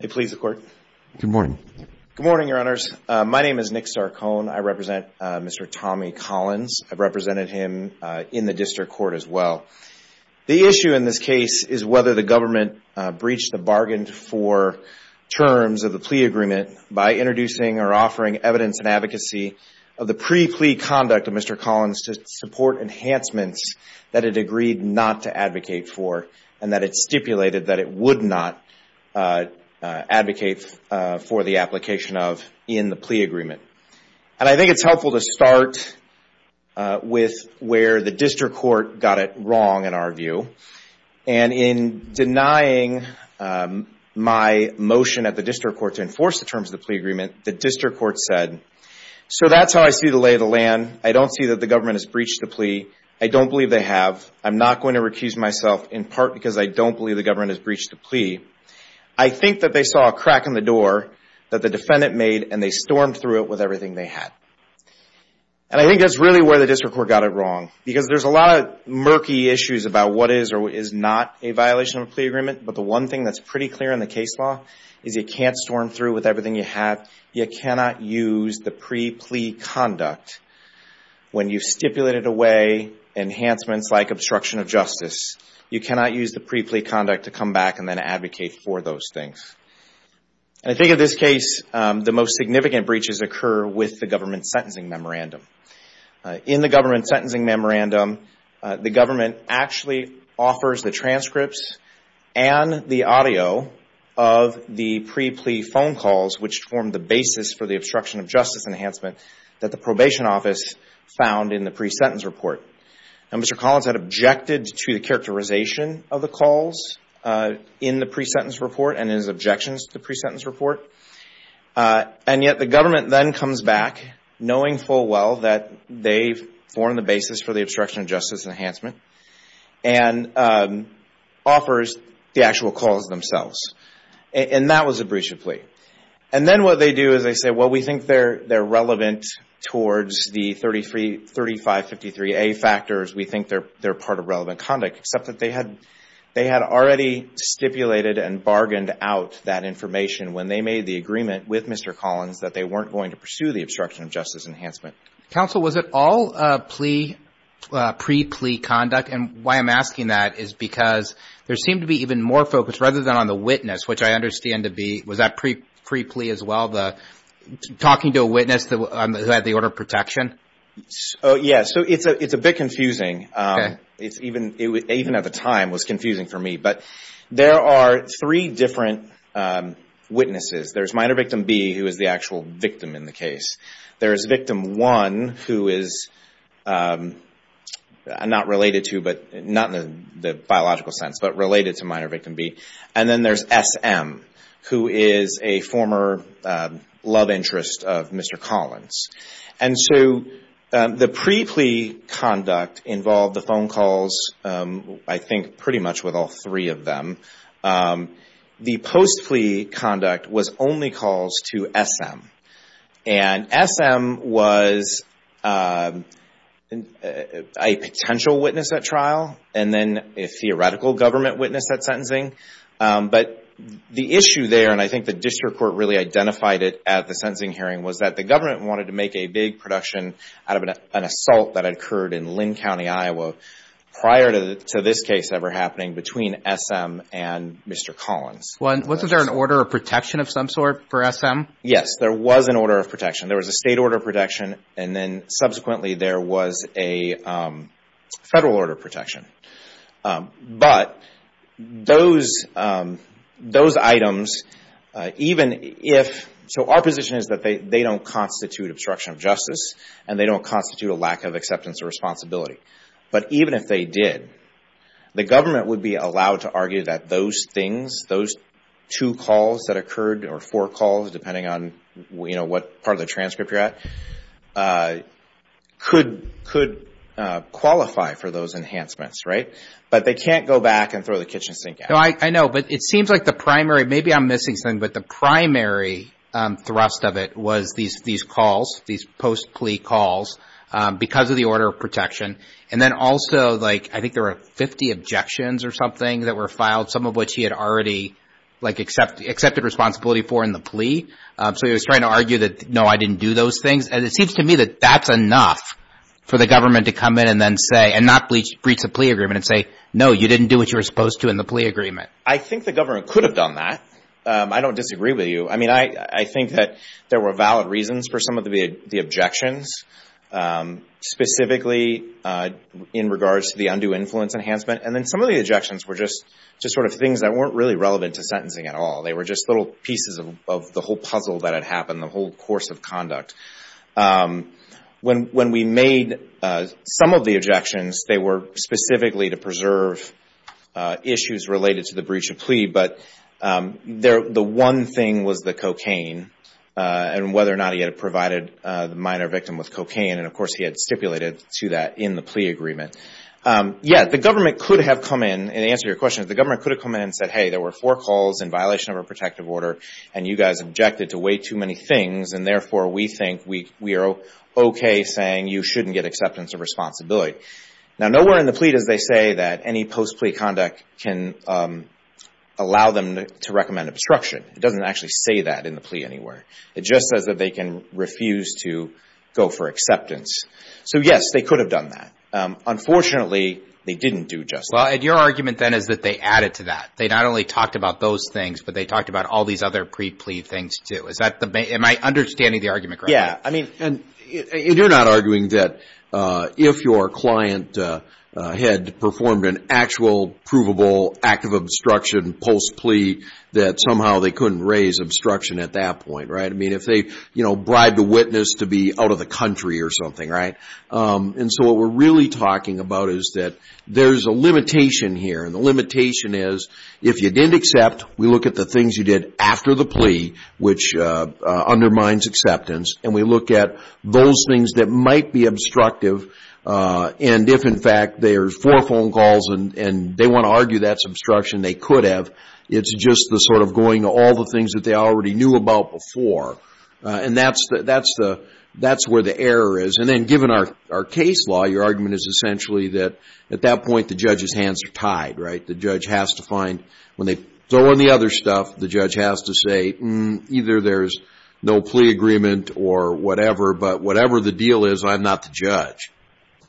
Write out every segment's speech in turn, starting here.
Good morning, your honors. My name is Nick Sarkoen. I represent Mr. Tommy Collins. I represented him in the district court as well. The issue in this case is whether the government breached the bargain for terms of the plea agreement by introducing or offering evidence and advocacy of the pre-plea conduct of Mr. Collins to support enhancements that it agreed not to and that it stipulated that it would not advocate for the application of in the plea agreement. And I think it's helpful to start with where the district court got it wrong in our view. And in denying my motion at the district court to enforce the terms of the plea agreement, the district court said, so that's how I see the lay of the land. I don't see that the government has breached the plea. I don't believe they have. I'm not going to deny that I don't believe the government has breached the plea. I think that they saw a crack in the door that the defendant made and they stormed through it with everything they had. And I think that's really where the district court got it wrong. Because there's a lot of murky issues about what is or is not a violation of a plea agreement. But the one thing that's pretty clear in the case law is you can't storm through with everything you have. You cannot use the pre-plea conduct when you've stipulated away enhancements like obstruction of justice. You cannot use the pre-plea conduct to come back and then advocate for those things. And I think in this case, the most significant breaches occur with the government sentencing memorandum. In the government sentencing memorandum, the government actually offers the transcripts and the audio of the pre-plea phone calls which form the basis for the obstruction of justice enhancement that the probation office found in the pre-sentence report. And Mr. Collins had objected to the characterization of the calls in the pre-sentence report and his objections to the pre-sentence report. And yet the government then comes back knowing full well that they've formed the basis for the obstruction of justice enhancement and offers the actual calls themselves. And that was a breach of plea. And then what they do is they say, well, we think they're relevant towards the 3553A factors. We think they're part of relevant conduct. Except that they had already stipulated and bargained out that information when they made the agreement with Mr. Collins that they weren't going to pursue the obstruction of justice enhancement. Counsel, was it all pre-plea conduct? And why I'm asking that is because there seemed to be even more focus rather than on the witness, which I understand to be, was that pre-plea as well? Talking to a witness who had the order of protection? Yes. So it's a bit confusing. Even at the time it was confusing for me. But there are three different witnesses. There's minor victim B who is the actual victim in the case. There is victim 1 who is not related to, not in the biological sense, but related to minor love interest of Mr. Collins. And so the pre-plea conduct involved the phone calls, I think pretty much with all three of them. The post-plea conduct was only calls to SM. And SM was a potential witness at trial and then a theoretical government witness at sentencing. But the issue there, and I really identified it at the sentencing hearing, was that the government wanted to make a big production out of an assault that had occurred in Linn County, Iowa prior to this case ever happening between SM and Mr. Collins. Was there an order of protection of some sort for SM? Yes. There was an order of protection. There was a state order of protection. And then subsequently there was a federal order of protection. But those items, even in the case if, so our position is that they don't constitute obstruction of justice and they don't constitute a lack of acceptance or responsibility. But even if they did, the government would be allowed to argue that those things, those two calls that occurred, or four calls depending on what part of the transcript you're at, could qualify for those enhancements, right? But they can't go back and throw the kitchen sink at them. I know. But it seems like the primary, maybe I'm missing something, but the primary thrust of it was these calls, these post-plea calls, because of the order of protection. And then also, I think there were 50 objections or something that were filed, some of which he had already accepted responsibility for in the plea. So he was trying to argue that, no, I didn't do those things. And it seems to me that that's enough for the government to come in and then say, and not breach the plea agreement and say, no, you didn't do what you were supposed to in the plea agreement. I think the government could have done that. I don't disagree with you. I mean, I think that there were valid reasons for some of the objections, specifically in regards to the undue influence enhancement. And then some of the objections were just sort of things that weren't really relevant to sentencing at all. They were just little pieces of the whole puzzle that had happened, the whole course of conduct. When we made some of the preserve issues related to the breach of plea, but the one thing was the cocaine and whether or not he had provided the minor victim with cocaine. And of course, he had stipulated to that in the plea agreement. Yes, the government could have come in, and to answer your question, the government could have come in and said, hey, there were four calls in violation of our protective order and you guys objected to way too many things. And therefore, we think we are okay saying you shouldn't get acceptance or responsibility. Now, nowhere in the plea does they say that any post-plea conduct can allow them to recommend obstruction. It doesn't actually say that in the plea anywhere. It just says that they can refuse to go for acceptance. So yes, they could have done that. Unfortunately, they didn't do just that. Well, and your argument then is that they added to that. They not only talked about those things, but they talked about all these other pre-plea things too. Am I understanding the argument correctly? Yes. And you're not arguing that if your client had performed an actual provable act of obstruction post-plea, that somehow they couldn't raise obstruction at that point, right? I mean, if they bribed a witness to be out of the country or something, right? And so what we're really talking about is that there's a limitation here. And the limitation is if you didn't accept, we look at the things you did after the plea, which undermines acceptance, and we look at those things that might be obstructive. And if, in fact, there's four phone calls and they want to argue that's obstruction, they could have. It's just the sort of going to all the things that they already knew about before. And that's where the error is. And then given our case law, your argument is essentially that at that point, the judge's hands are tied, right? The judge has to find when they throw in the other stuff, the judge has to say, either there's no plea agreement or whatever, but whatever the deal is, I'm not the judge.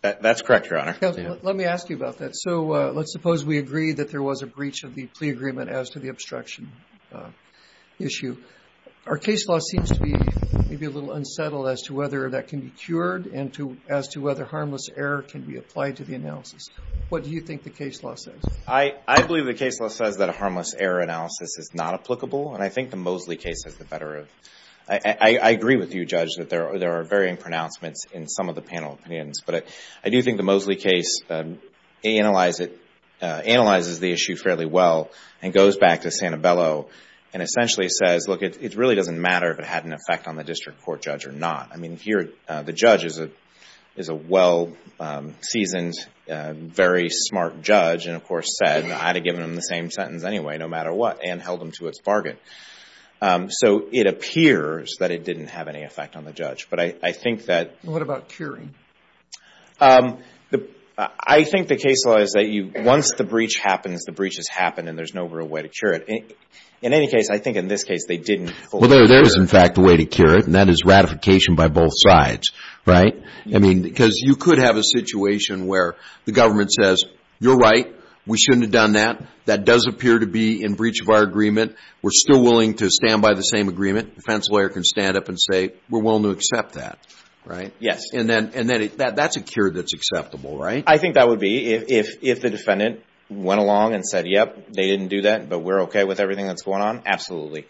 That's correct, Your Honor. Let me ask you about that. So let's suppose we agree that there was a breach of the plea agreement as to the obstruction issue. Our case law seems to be maybe a little unsettled as to whether that can be cured and as to whether harmless error can be applied to the analysis. What do you think the case law says? I believe the case law says that a harmless error analysis is not applicable. And I think the Mosley case has the better of. I agree with you, Judge, that there are varying pronouncements in some of the panel opinions. But I do think the Mosley case analyzes the issue fairly well and goes back to Santabello and essentially says, look, it really doesn't matter if it had an effect on the district court judge or not. I mean, here the judge is a well-seasoned, very smart judge and, of course, said I'd have given him the same sentence anyway, no matter what, and held him to its bargain. So it appears that it didn't have any effect on the judge. But I think that... What about curing? I think the case law is that once the breach happens, the breach has happened and there's no real way to cure it. In any case, I think in this case they didn't fully cure it. Well, there is, in fact, a way to cure it, and that is ratification by both sides, right? You could have a situation where the government says, you're right, we shouldn't have done that. That does appear to be in breach of our agreement. We're still willing to stand by the same agreement. The defense lawyer can stand up and say, we're willing to accept that. And that's a cure that's acceptable, right? I think that would be. If the defendant went along and said, yep, they didn't do that, but we're okay with everything that's going on, absolutely.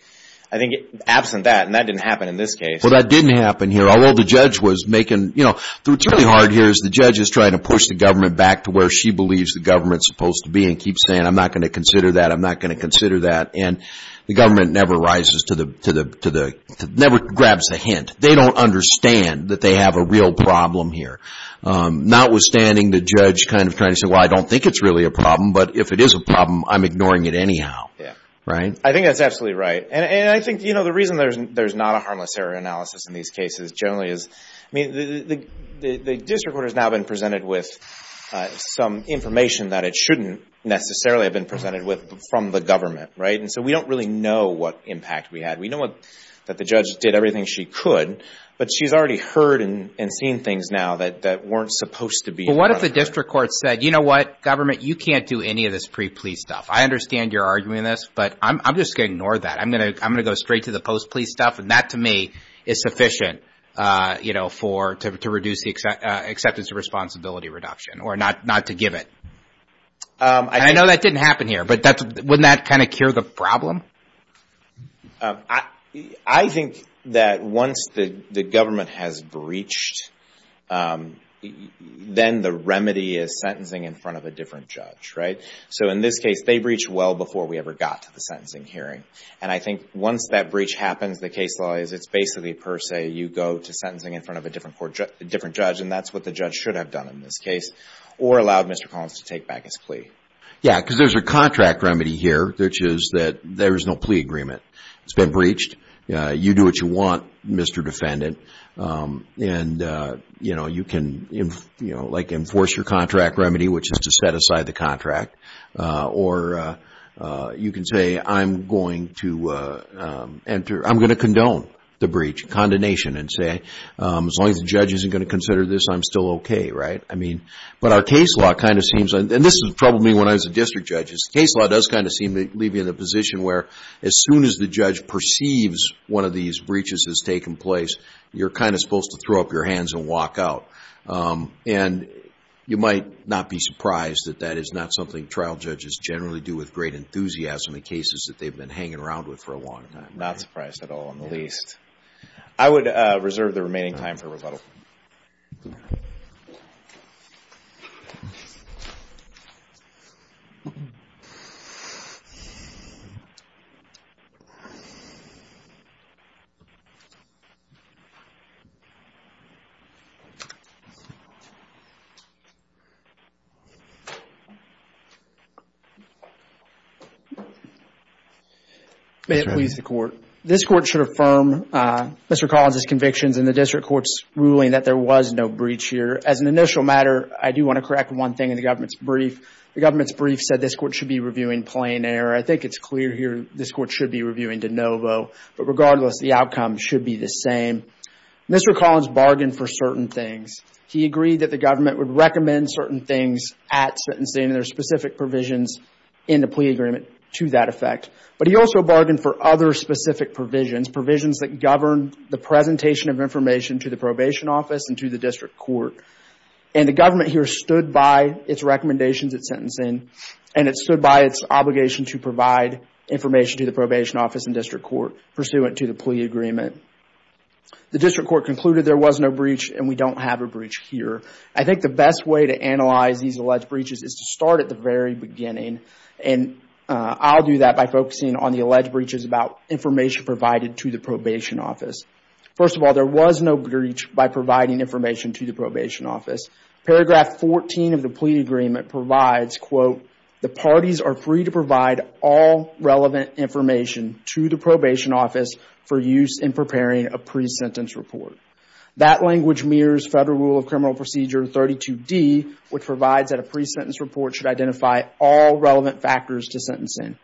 I think absent that, and that didn't happen in this case... Well, the judge was making... What's really hard here is the judge is trying to push the government back to where she believes the government's supposed to be, and keep saying, I'm not going to consider that, I'm not going to consider that. And the government never rises to the... Never grabs the hint. They don't understand that they have a real problem here. Notwithstanding, the judge kind of trying to say, well, I don't think it's really a problem, but if it is a problem, I'm ignoring it anyhow, right? I think that's absolutely right. And I think the reason there's not a harmless error analysis in these cases generally is, I mean, the district court has now been presented with some information that it shouldn't necessarily have been presented with from the government, right? And so we don't really know what impact we had. We know that the judge did everything she could, but she's already heard and seen things now that weren't supposed to be. But what if the district court said, you know what, government, you can't do any of this pre-plea stuff. I understand you're arguing this, but I'm just going to ignore that. I'm going to go straight to the post-plea stuff. And that to me is sufficient, you know, to reduce the acceptance of responsibility reduction or not to give it. I know that didn't happen here, but wouldn't that kind of cure the problem? I think that once the government has breached, then the remedy is sentencing in front of a different judge, right? So in this case, they breached well before we ever got to the court. I think once that breach happens, the case law is it's basically per se, you go to sentencing in front of a different court, a different judge, and that's what the judge should have done in this case or allowed Mr. Collins to take back his plea. Yeah, because there's a contract remedy here, which is that there is no plea agreement. It's been breached. You do what you want, Mr. Defendant. And you know, you can, you know, like enforce your contract remedy, which is to set aside the contract. Or you can say, I'm going to enter, I'm going to condone the breach, condemnation, and say, as long as the judge isn't going to consider this, I'm still okay, right? I mean, but our case law kind of seems, and this has troubled me when I was a district judge, is case law does kind of seem to leave you in a position where as soon as the judge perceives one of these breaches has taken place, you're kind of supposed to throw up your hands and walk out. And you might not be surprised that that is not something trial judges generally do with great enthusiasm in cases that they've been hanging around with for a long time. Not surprised at all, in the least. I would reserve the remaining time for rebuttal. May it please the court. This court should affirm Mr. Collins' convictions in the district court's ruling that there was no breach here. As an initial matter, I do want to correct one thing in the government's brief. The government's brief said this court should be reviewing plain error. I think it's clear here this court should be reviewing de novo. But regardless, the outcome should be the same. Mr. Collins bargained for certain things. He agreed that the government would recommend certain things at sentencing, and there are specific provisions in the plea agreement to that effect. But he also bargained for other specific provisions. Provisions that govern the presentation of information to the probation office and to the district court. And the government here stood by its recommendations at sentencing, and it stood by its obligation to provide information to the probation office and district court pursuant to the plea agreement. The district court concluded there was no breach and we don't have a breach here. I think the best way to analyze these alleged breaches is to start at the very beginning. And I'll do that by focusing on the alleged breaches about information provided to the probation office. First of all, there was no breach by providing information to the probation office. Paragraph 14 of the plea agreement provides, quote, the parties are free to provide all relevant information to the probation office for use in preparing a pre-sentence report. That language mirrors Federal Rule of Criminal Procedure 32D, which provides that a pre-sentence report should identify all relevant factors to sentencing.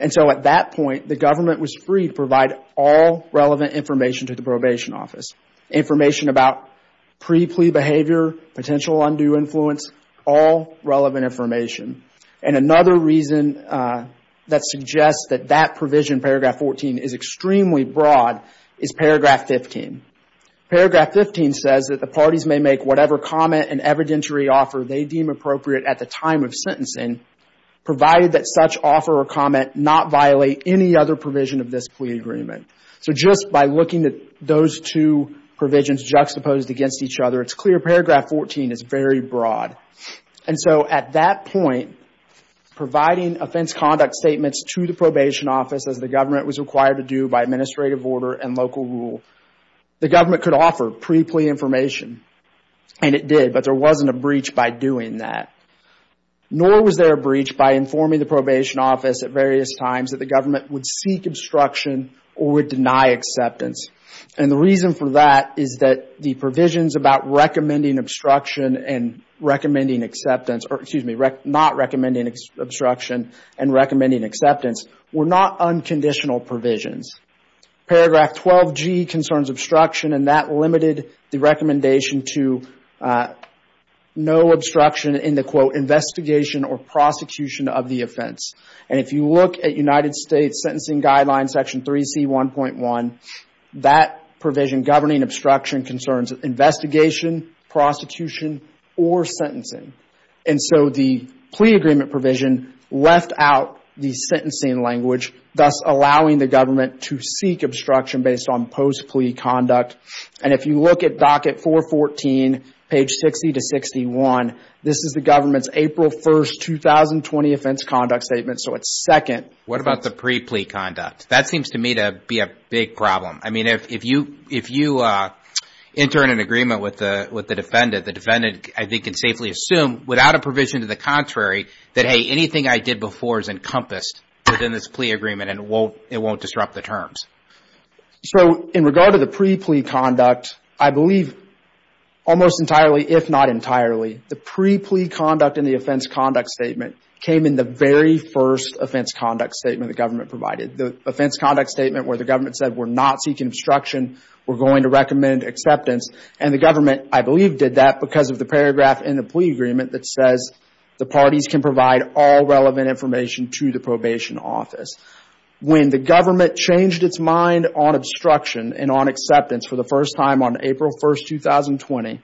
And so at that point, the government was free to provide all relevant information to the probation office. Information about pre-plea behavior, potential undue influence, all relevant information. And another reason that suggests that that provision, paragraph 14, is extremely broad is paragraph 15. Paragraph 15 says that the government, whatever comment and evidentiary offer they deem appropriate at the time of sentencing, provided that such offer or comment not violate any other provision of this plea agreement. So just by looking at those two provisions juxtaposed against each other, it's clear paragraph 14 is very broad. And so at that point, providing offense conduct statements to the probation office as the government was required to do by administrative order and local rule, the government could offer pre-plea information. And it did, but there wasn't a breach by doing that. Nor was there a breach by informing the probation office at various times that the government would seek obstruction or would deny acceptance. And the reason for that is that the provisions about recommending obstruction and recommending acceptance were not unconditional provisions. Paragraph 12G concerns obstruction and that limited the recommendation to no obstruction in the, quote, investigation or prosecution of the offense. And if you look at United States Sentencing Guidelines, section 3C1.1, that provision governing obstruction concerns investigation, prosecution, or sentencing. And so the plea agreement provision left out the sentencing language, thus allowing the government to seek obstruction based on post-plea conduct. And if you look at docket 414, page 60 to 61, this is the government's April 1st, 2020 offense conduct statement. So it's second. What about the pre-plea conduct? That seems to me to be a big problem. I mean, if you enter in an agreement with the defendant, the defendant, I think, can safely assume without a provision to the contrary that, hey, anything I did before is encompassed within this plea agreement and it won't disrupt the terms. So in regard to the pre-plea conduct, I believe almost entirely, if not entirely, the pre-plea conduct in the offense conduct statement came in the very first offense conduct statement the government provided. The offense conduct statement where the government said we're not seeking obstruction, we're going to recommend acceptance. And the government, I believe, did that because of the paragraph in the plea agreement that says the parties can provide all relevant information to the probation office. When the government changed its mind on obstruction and on acceptance for the first time on April 1st, 2020,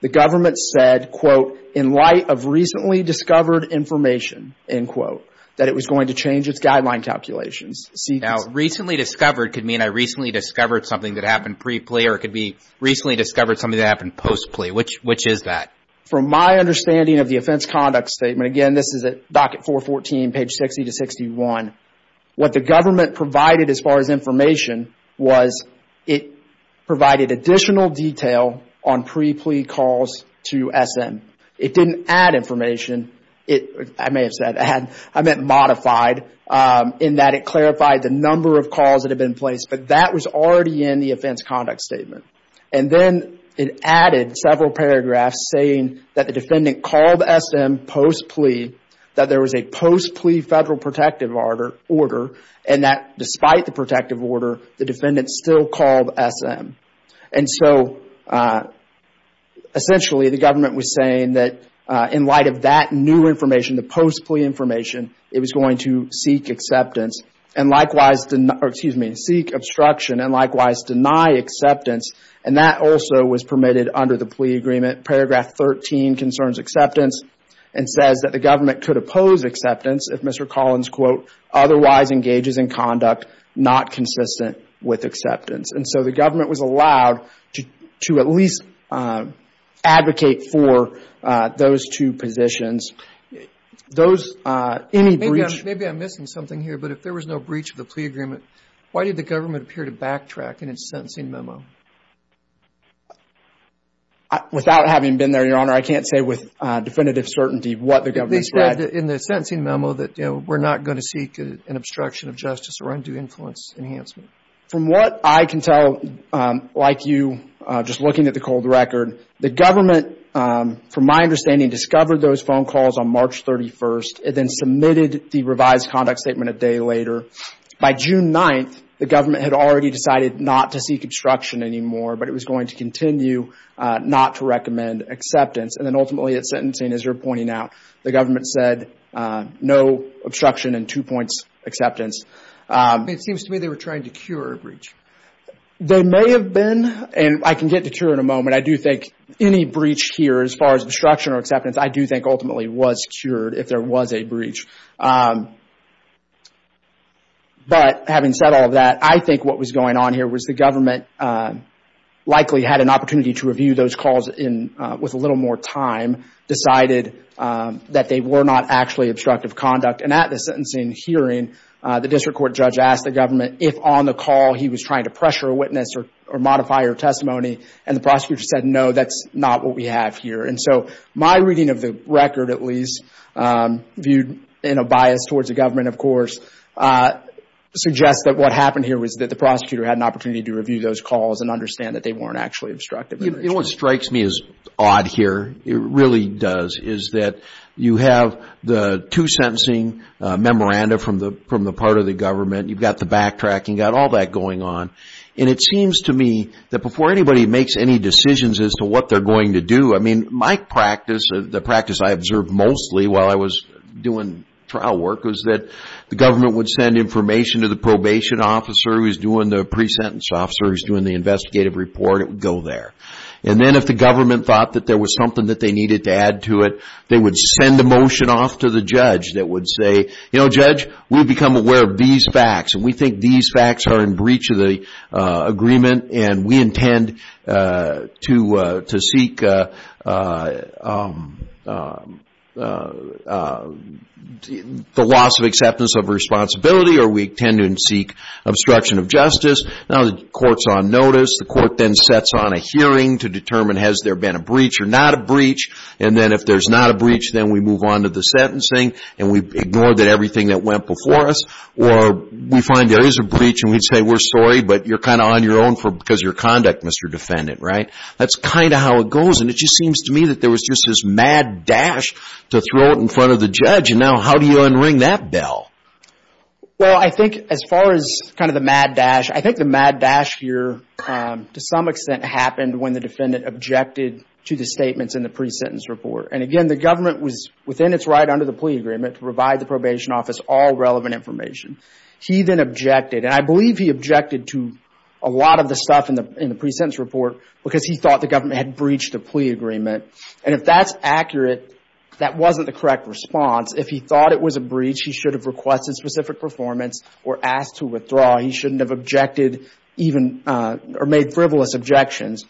the government said, quote, in light of recently discovered information, end quote, that it was going to change its guideline calculations. Now, recently discovered could mean I recently discovered something that happened pre-plea or it could be recently discovered something that happened post-plea. Which is that? From my understanding of the offense conduct statement, again, this is at docket 414, page 60 to 61, what the government provided as far as information was it provided additional detail on pre-plea calls to SM. It didn't add information. I may have said add. I meant modified in that it clarified the number of calls that had been placed, but that was already in the offense conduct statement. And then it added several paragraphs saying that the defendant called SM post-plea, that there was a post-plea federal protective order, and that despite the uh, essentially, the government was saying that in light of that new information, the post-plea information, it was going to seek acceptance and likewise, excuse me, seek obstruction and likewise deny acceptance. And that also was permitted under the plea agreement. Paragraph 13 concerns acceptance and says that the government could oppose acceptance if Mr. Collins, quote, otherwise engages in conduct not consistent with acceptance. And so the government was allowed to at least advocate for those two positions. Those, uh, any breach... Maybe I'm missing something here, but if there was no breach of the plea agreement, why did the government appear to backtrack in its sentencing memo? Without having been there, Your Honor, I can't say with definitive certainty what the government said. In the sentencing memo that, you know, we're not going to seek an obstruction of justice or undue influence enhancement. From what I can tell, like you, just looking at the cold record, the government, from my understanding, discovered those phone calls on March 31st and then submitted the revised conduct statement a day later. By June 9th, the government had already decided not to seek obstruction anymore, but it was going to continue not to recommend acceptance. And then ultimately at sentencing, as you're pointing out, the government said no obstruction and two points acceptance. It seems to me they were trying to cure a breach. They may have been, and I can get to cure in a moment. I do think any breach here, as far as obstruction or acceptance, I do think ultimately was cured if there was a breach. But having said all of that, I think what was going on here was the government likely had an opportunity to review those calls in, with a little more time, decided that they were not actually obstructive conduct. And at the sentencing hearing, the district court judge asked the government if on the call he was trying to pressure a witness or modify her testimony, and the prosecutor said no, that's not what we have here. And so my reading of the record, at least, viewed in a bias towards the government, of course, suggests that what happened here was that the prosecutor had an opportunity to review those calls and understand that they weren't actually obstructive. You know what strikes me as odd here, it really does, is that you have the two sentencing memoranda from the part of the government, you've got the backtracking, you've got all that going on, and it seems to me that before anybody makes any decisions as to what they're going to do, I mean, my practice, the practice I observed mostly while I was doing trial work, was that the government would send information to the probation officer who's doing the pre-sentence officer who's doing the investigative report, it would go there. And then if the government thought that there was something that they needed to add to it, they would send a motion off to the judge that would say, you know, judge, we've become aware of these facts, and we think these facts are in breach of the agreement, and we intend to seek the loss of acceptance of responsibility, or we intend to seek obstruction of justice. Now the court's on notice, the court then sets on a hearing to determine has there been a breach or And then if there's not a breach, then we move on to the sentencing, and we ignore that everything that went before us, or we find there is a breach, and we'd say, we're sorry, but you're kind of on your own because of your conduct, Mr. Defendant, right? That's kind of how it goes, and it just seems to me that there was just this mad dash to throw it in front of the judge, and now how do you unring that bell? Well, I think as far as kind of the mad dash, I think the mad dash here, to some extent, happened when the defendant objected to the statements in the pre-sentence report, and again, the government was within its right under the plea agreement to provide the probation office all relevant information. He then objected, and I believe he objected to a lot of the stuff in the pre-sentence report because he thought the government had breached the plea agreement, and if that's accurate, that wasn't the correct response. If he thought it was a breach, he should have requested specific performance or asked to withdraw. He shouldn't have objected even or made frivolous objections.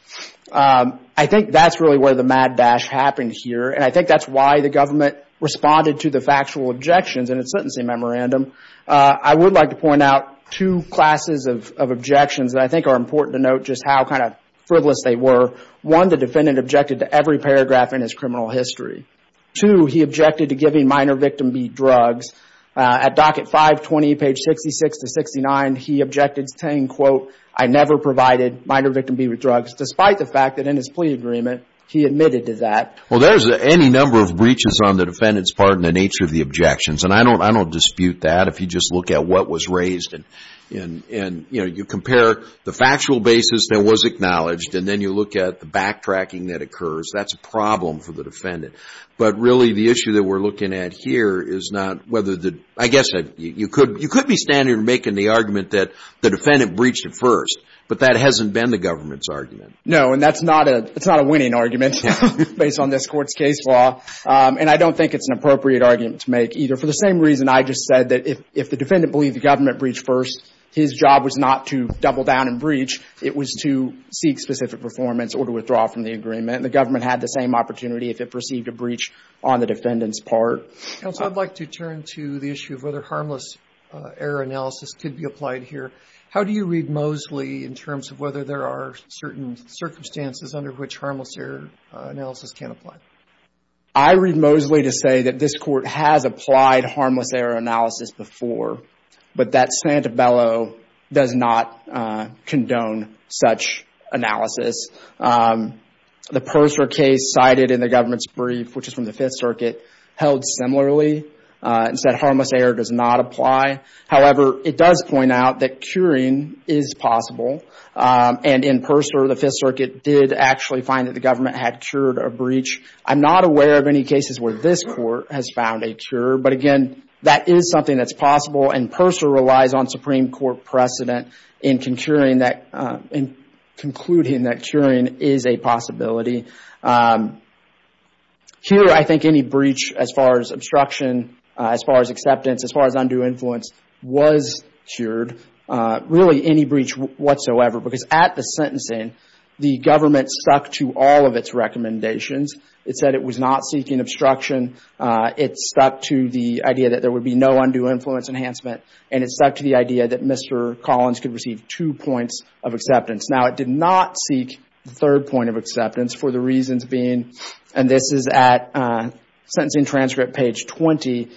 I think that's really where the mad dash happened here, and I think that's why the government responded to the factual objections in its sentencing memorandum. I would like to point out two classes of objections that I think are important to note just how kind of frivolous they were. One, the defendant objected to every paragraph in his criminal history. Two, he objected to giving minor victim B drugs. At docket 520, page 66 to 69, he objected to saying, quote, I never provided minor victim B drugs, despite the fact that in his plea agreement, he admitted to that. Well, there's any number of breaches on the defendant's part in the nature of the objections, and I don't dispute that. If you just look at what was raised and you compare the factual basis that was acknowledged, and then you look at the backtracking that occurs, that's a problem for the defendant. But really, the issue that we're making the argument that the defendant breached it first, but that hasn't been the government's argument. No, and that's not a winning argument based on this Court's case law, and I don't think it's an appropriate argument to make either, for the same reason I just said that if the defendant believed the government breached first, his job was not to double down and breach. It was to seek specific performance or to withdraw from the agreement. The government had the same opportunity if it perceived a breach on the defendant's part. Counsel, I'd like to turn to the issue of whether error analysis could be applied here. How do you read Moseley in terms of whether there are certain circumstances under which harmless error analysis can apply? I read Moseley to say that this Court has applied harmless error analysis before, but that Santabello does not condone such analysis. The Purser case cited in the government's brief, which is from the Fifth Circuit, does not apply. However, it does point out that curing is possible, and in Purser, the Fifth Circuit did actually find that the government had cured a breach. I'm not aware of any cases where this Court has found a cure, but again, that is something that's possible, and Purser relies on Supreme Court precedent in concluding that curing is a possibility. Here, I think any breach as far as obstruction, as far as acceptance, as far as undue influence was cured. Really, any breach whatsoever, because at the sentencing, the government stuck to all of its recommendations. It said it was not seeking obstruction. It stuck to the idea that there would be no undue influence enhancement, and it stuck to the idea that Mr. Collins could receive two points of acceptance. Now, it did not seek the third point of acceptance for the reasons being, and this is at Section Transcript, page 20,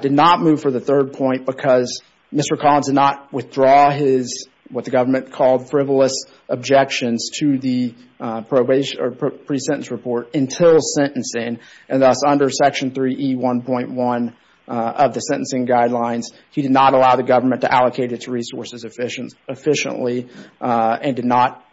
did not move for the third point because Mr. Collins did not withdraw his, what the government called, frivolous objections to the pre-sentence report until sentencing, and thus under Section 3E1.1 of the sentencing guidelines, he did not allow the government to allocate its resources efficiently, and did not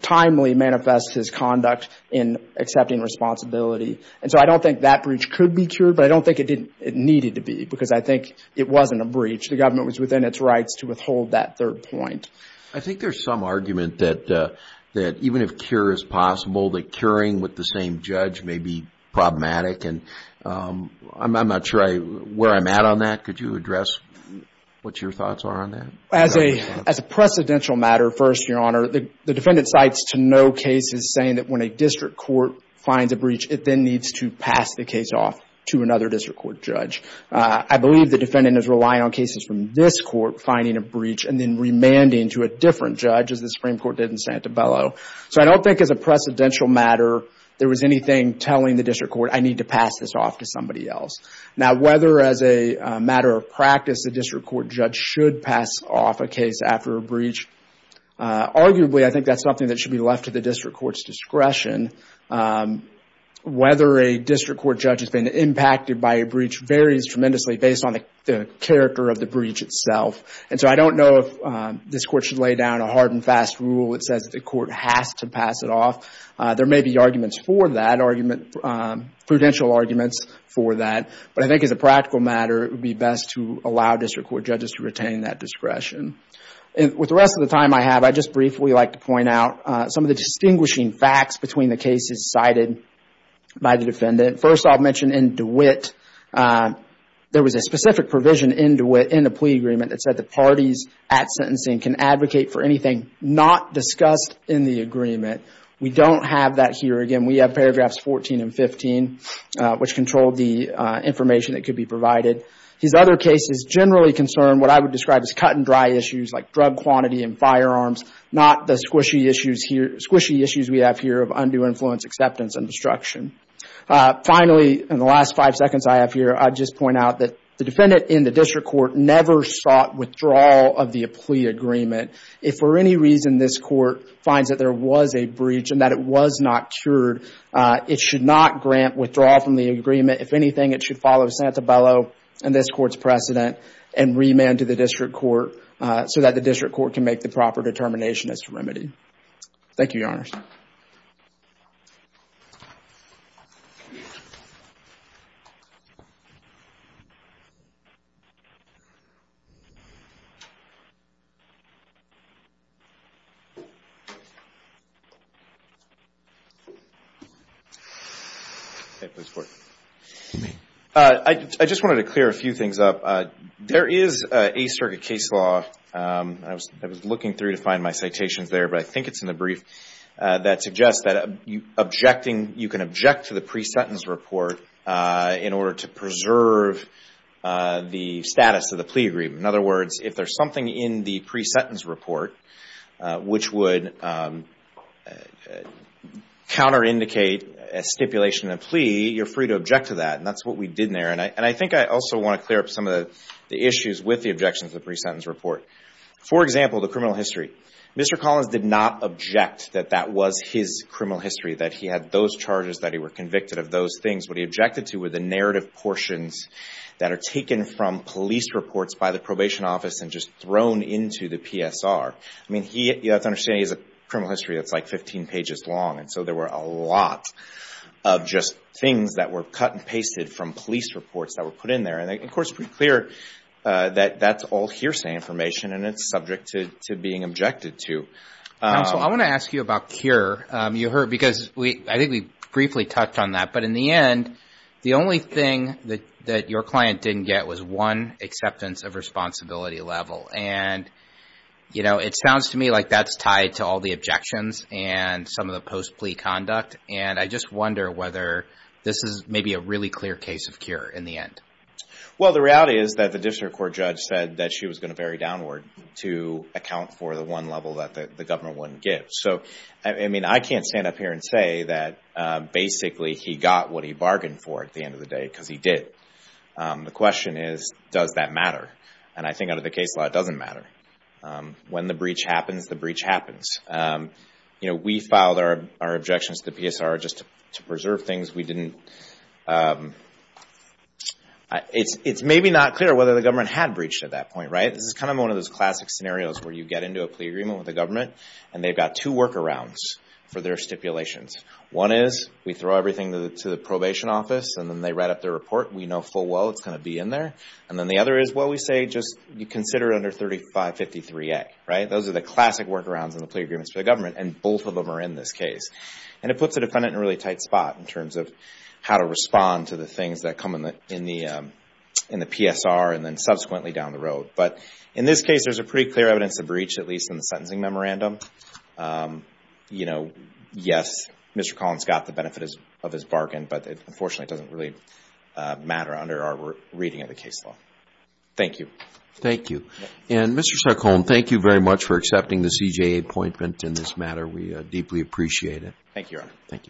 timely manifest his conduct in accepting responsibility. And so, I don't think that breach could be cured, but I don't think it needed to be because I think it wasn't a breach. The government was within its rights to withhold that third point. I think there's some argument that even if cure is possible, that curing with the same judge may be problematic, and I'm not sure where I'm at on that. Could you address what your thoughts are on that? As a precedential matter, first, Your Honor, the defendant cites to no cases saying that when a district court finds a breach, it then needs to pass the case off to another district court judge. I believe the defendant is relying on cases from this court finding a breach and then remanding to a different judge, as the Supreme Court did in Santabello. So, I don't think as a precedential matter, there was anything telling the district court, I need to pass this off to somebody else. Now, whether as a matter of practice, the district court judge should pass off a case after a breach, arguably, I think that's something that should be left to the district court's discretion. Whether a district court judge has been impacted by a breach varies tremendously based on the character of the breach itself. And so, I don't know if this court should lay down a hard and fast rule that says the court has to pass it off. There may be arguments for that, prudential arguments for that, but I think as a practical matter, it would be best to allow district court judges to retain that discretion. With the rest of the time I have, I'd just briefly like to point out some of the distinguishing facts between the cases cited by the defendant. First, I'll mention in DeWitt, there was a specific provision in DeWitt, in the plea agreement that said the parties at sentencing can advocate for anything not discussed in the agreement. We don't have that here. Again, we have paragraphs 14 and 15, which control the information that I would describe as cut and dry issues, like drug quantity and firearms, not the squishy issues we have here of undue influence, acceptance, and destruction. Finally, in the last five seconds I have here, I'd just point out that the defendant in the district court never sought withdrawal of the plea agreement. If for any reason this court finds that there was a breach and that it was not cured, it should not grant withdrawal from the agreement. If anything, it should follow Santa Bello and this court's precedent and remand to the district court so that the district court can make the proper determination as to remedy. Thank you, Your Honor. I just wanted to clear a few things up. There is a circuit case law, I was looking through to find my citations there, but I think it's in the brief, that suggests that you can object to the pre-sentence report in order to preserve the status of the plea agreement. In other words, if there's something in the pre-sentence report which would counterindicate a stipulation in a pre-sentence report, you can object to that. That's what we did there. I think I also want to clear up some of the issues with the objections to the pre-sentence report. For example, the criminal history. Mr. Collins did not object that that was his criminal history, that he had those charges, that he was convicted of those things. What he objected to were the narrative portions that are taken from police reports by the probation office and just thrown into the PSR. You have to understand he has a criminal history that's like 15 pages long, so there were a lot of just things that were cut and pasted from police reports that were put in there. Of course, it's pretty clear that that's all hearsay information and it's subject to being objected to. I want to ask you about CURE. I think we briefly touched on that, but in the end, the only thing that your client didn't get was one acceptance of responsibility level. And it sounds to me like that's tied to all the objections and some of the post-plea conduct. And I just wonder whether this is maybe a really clear case of CURE in the end. Well, the reality is that the district court judge said that she was going to vary downward to account for the one level that the governor wouldn't give. So, I mean, I can't stand up here and say that basically he got what he bargained for at the end of the day because he did. The question is, does that matter? And I think under the case law, it doesn't matter. When the breach happens, the breach happens. We filed our objections to the PSR just to preserve things. It's maybe not clear whether the government had breached at that point, right? This is kind of one of those classic scenarios where you get into a plea agreement with the government and they've got two workarounds for their stipulations. One is we throw everything to the probation office and then they write up their report. We know full well it's going to be in there. And then the other is, well, we say just consider it under 3553A, right? Those are the classic workarounds in the plea agreements for the government and both of them are in this case. And it puts a defendant in a really tight spot in terms of how to respond to the things that come in the PSR and then subsequently down the road. But in this case, there's a pretty clear evidence of breach, at least in the sentencing memorandum. You know, yes, Mr. Collins got the benefit of his but unfortunately it doesn't really matter under our reading of the case law. Thank you. Thank you. And Mr. Sarcone, thank you very much for accepting the CJA appointment in this matter. We deeply appreciate it. Thank you, Your Honor. Thank you.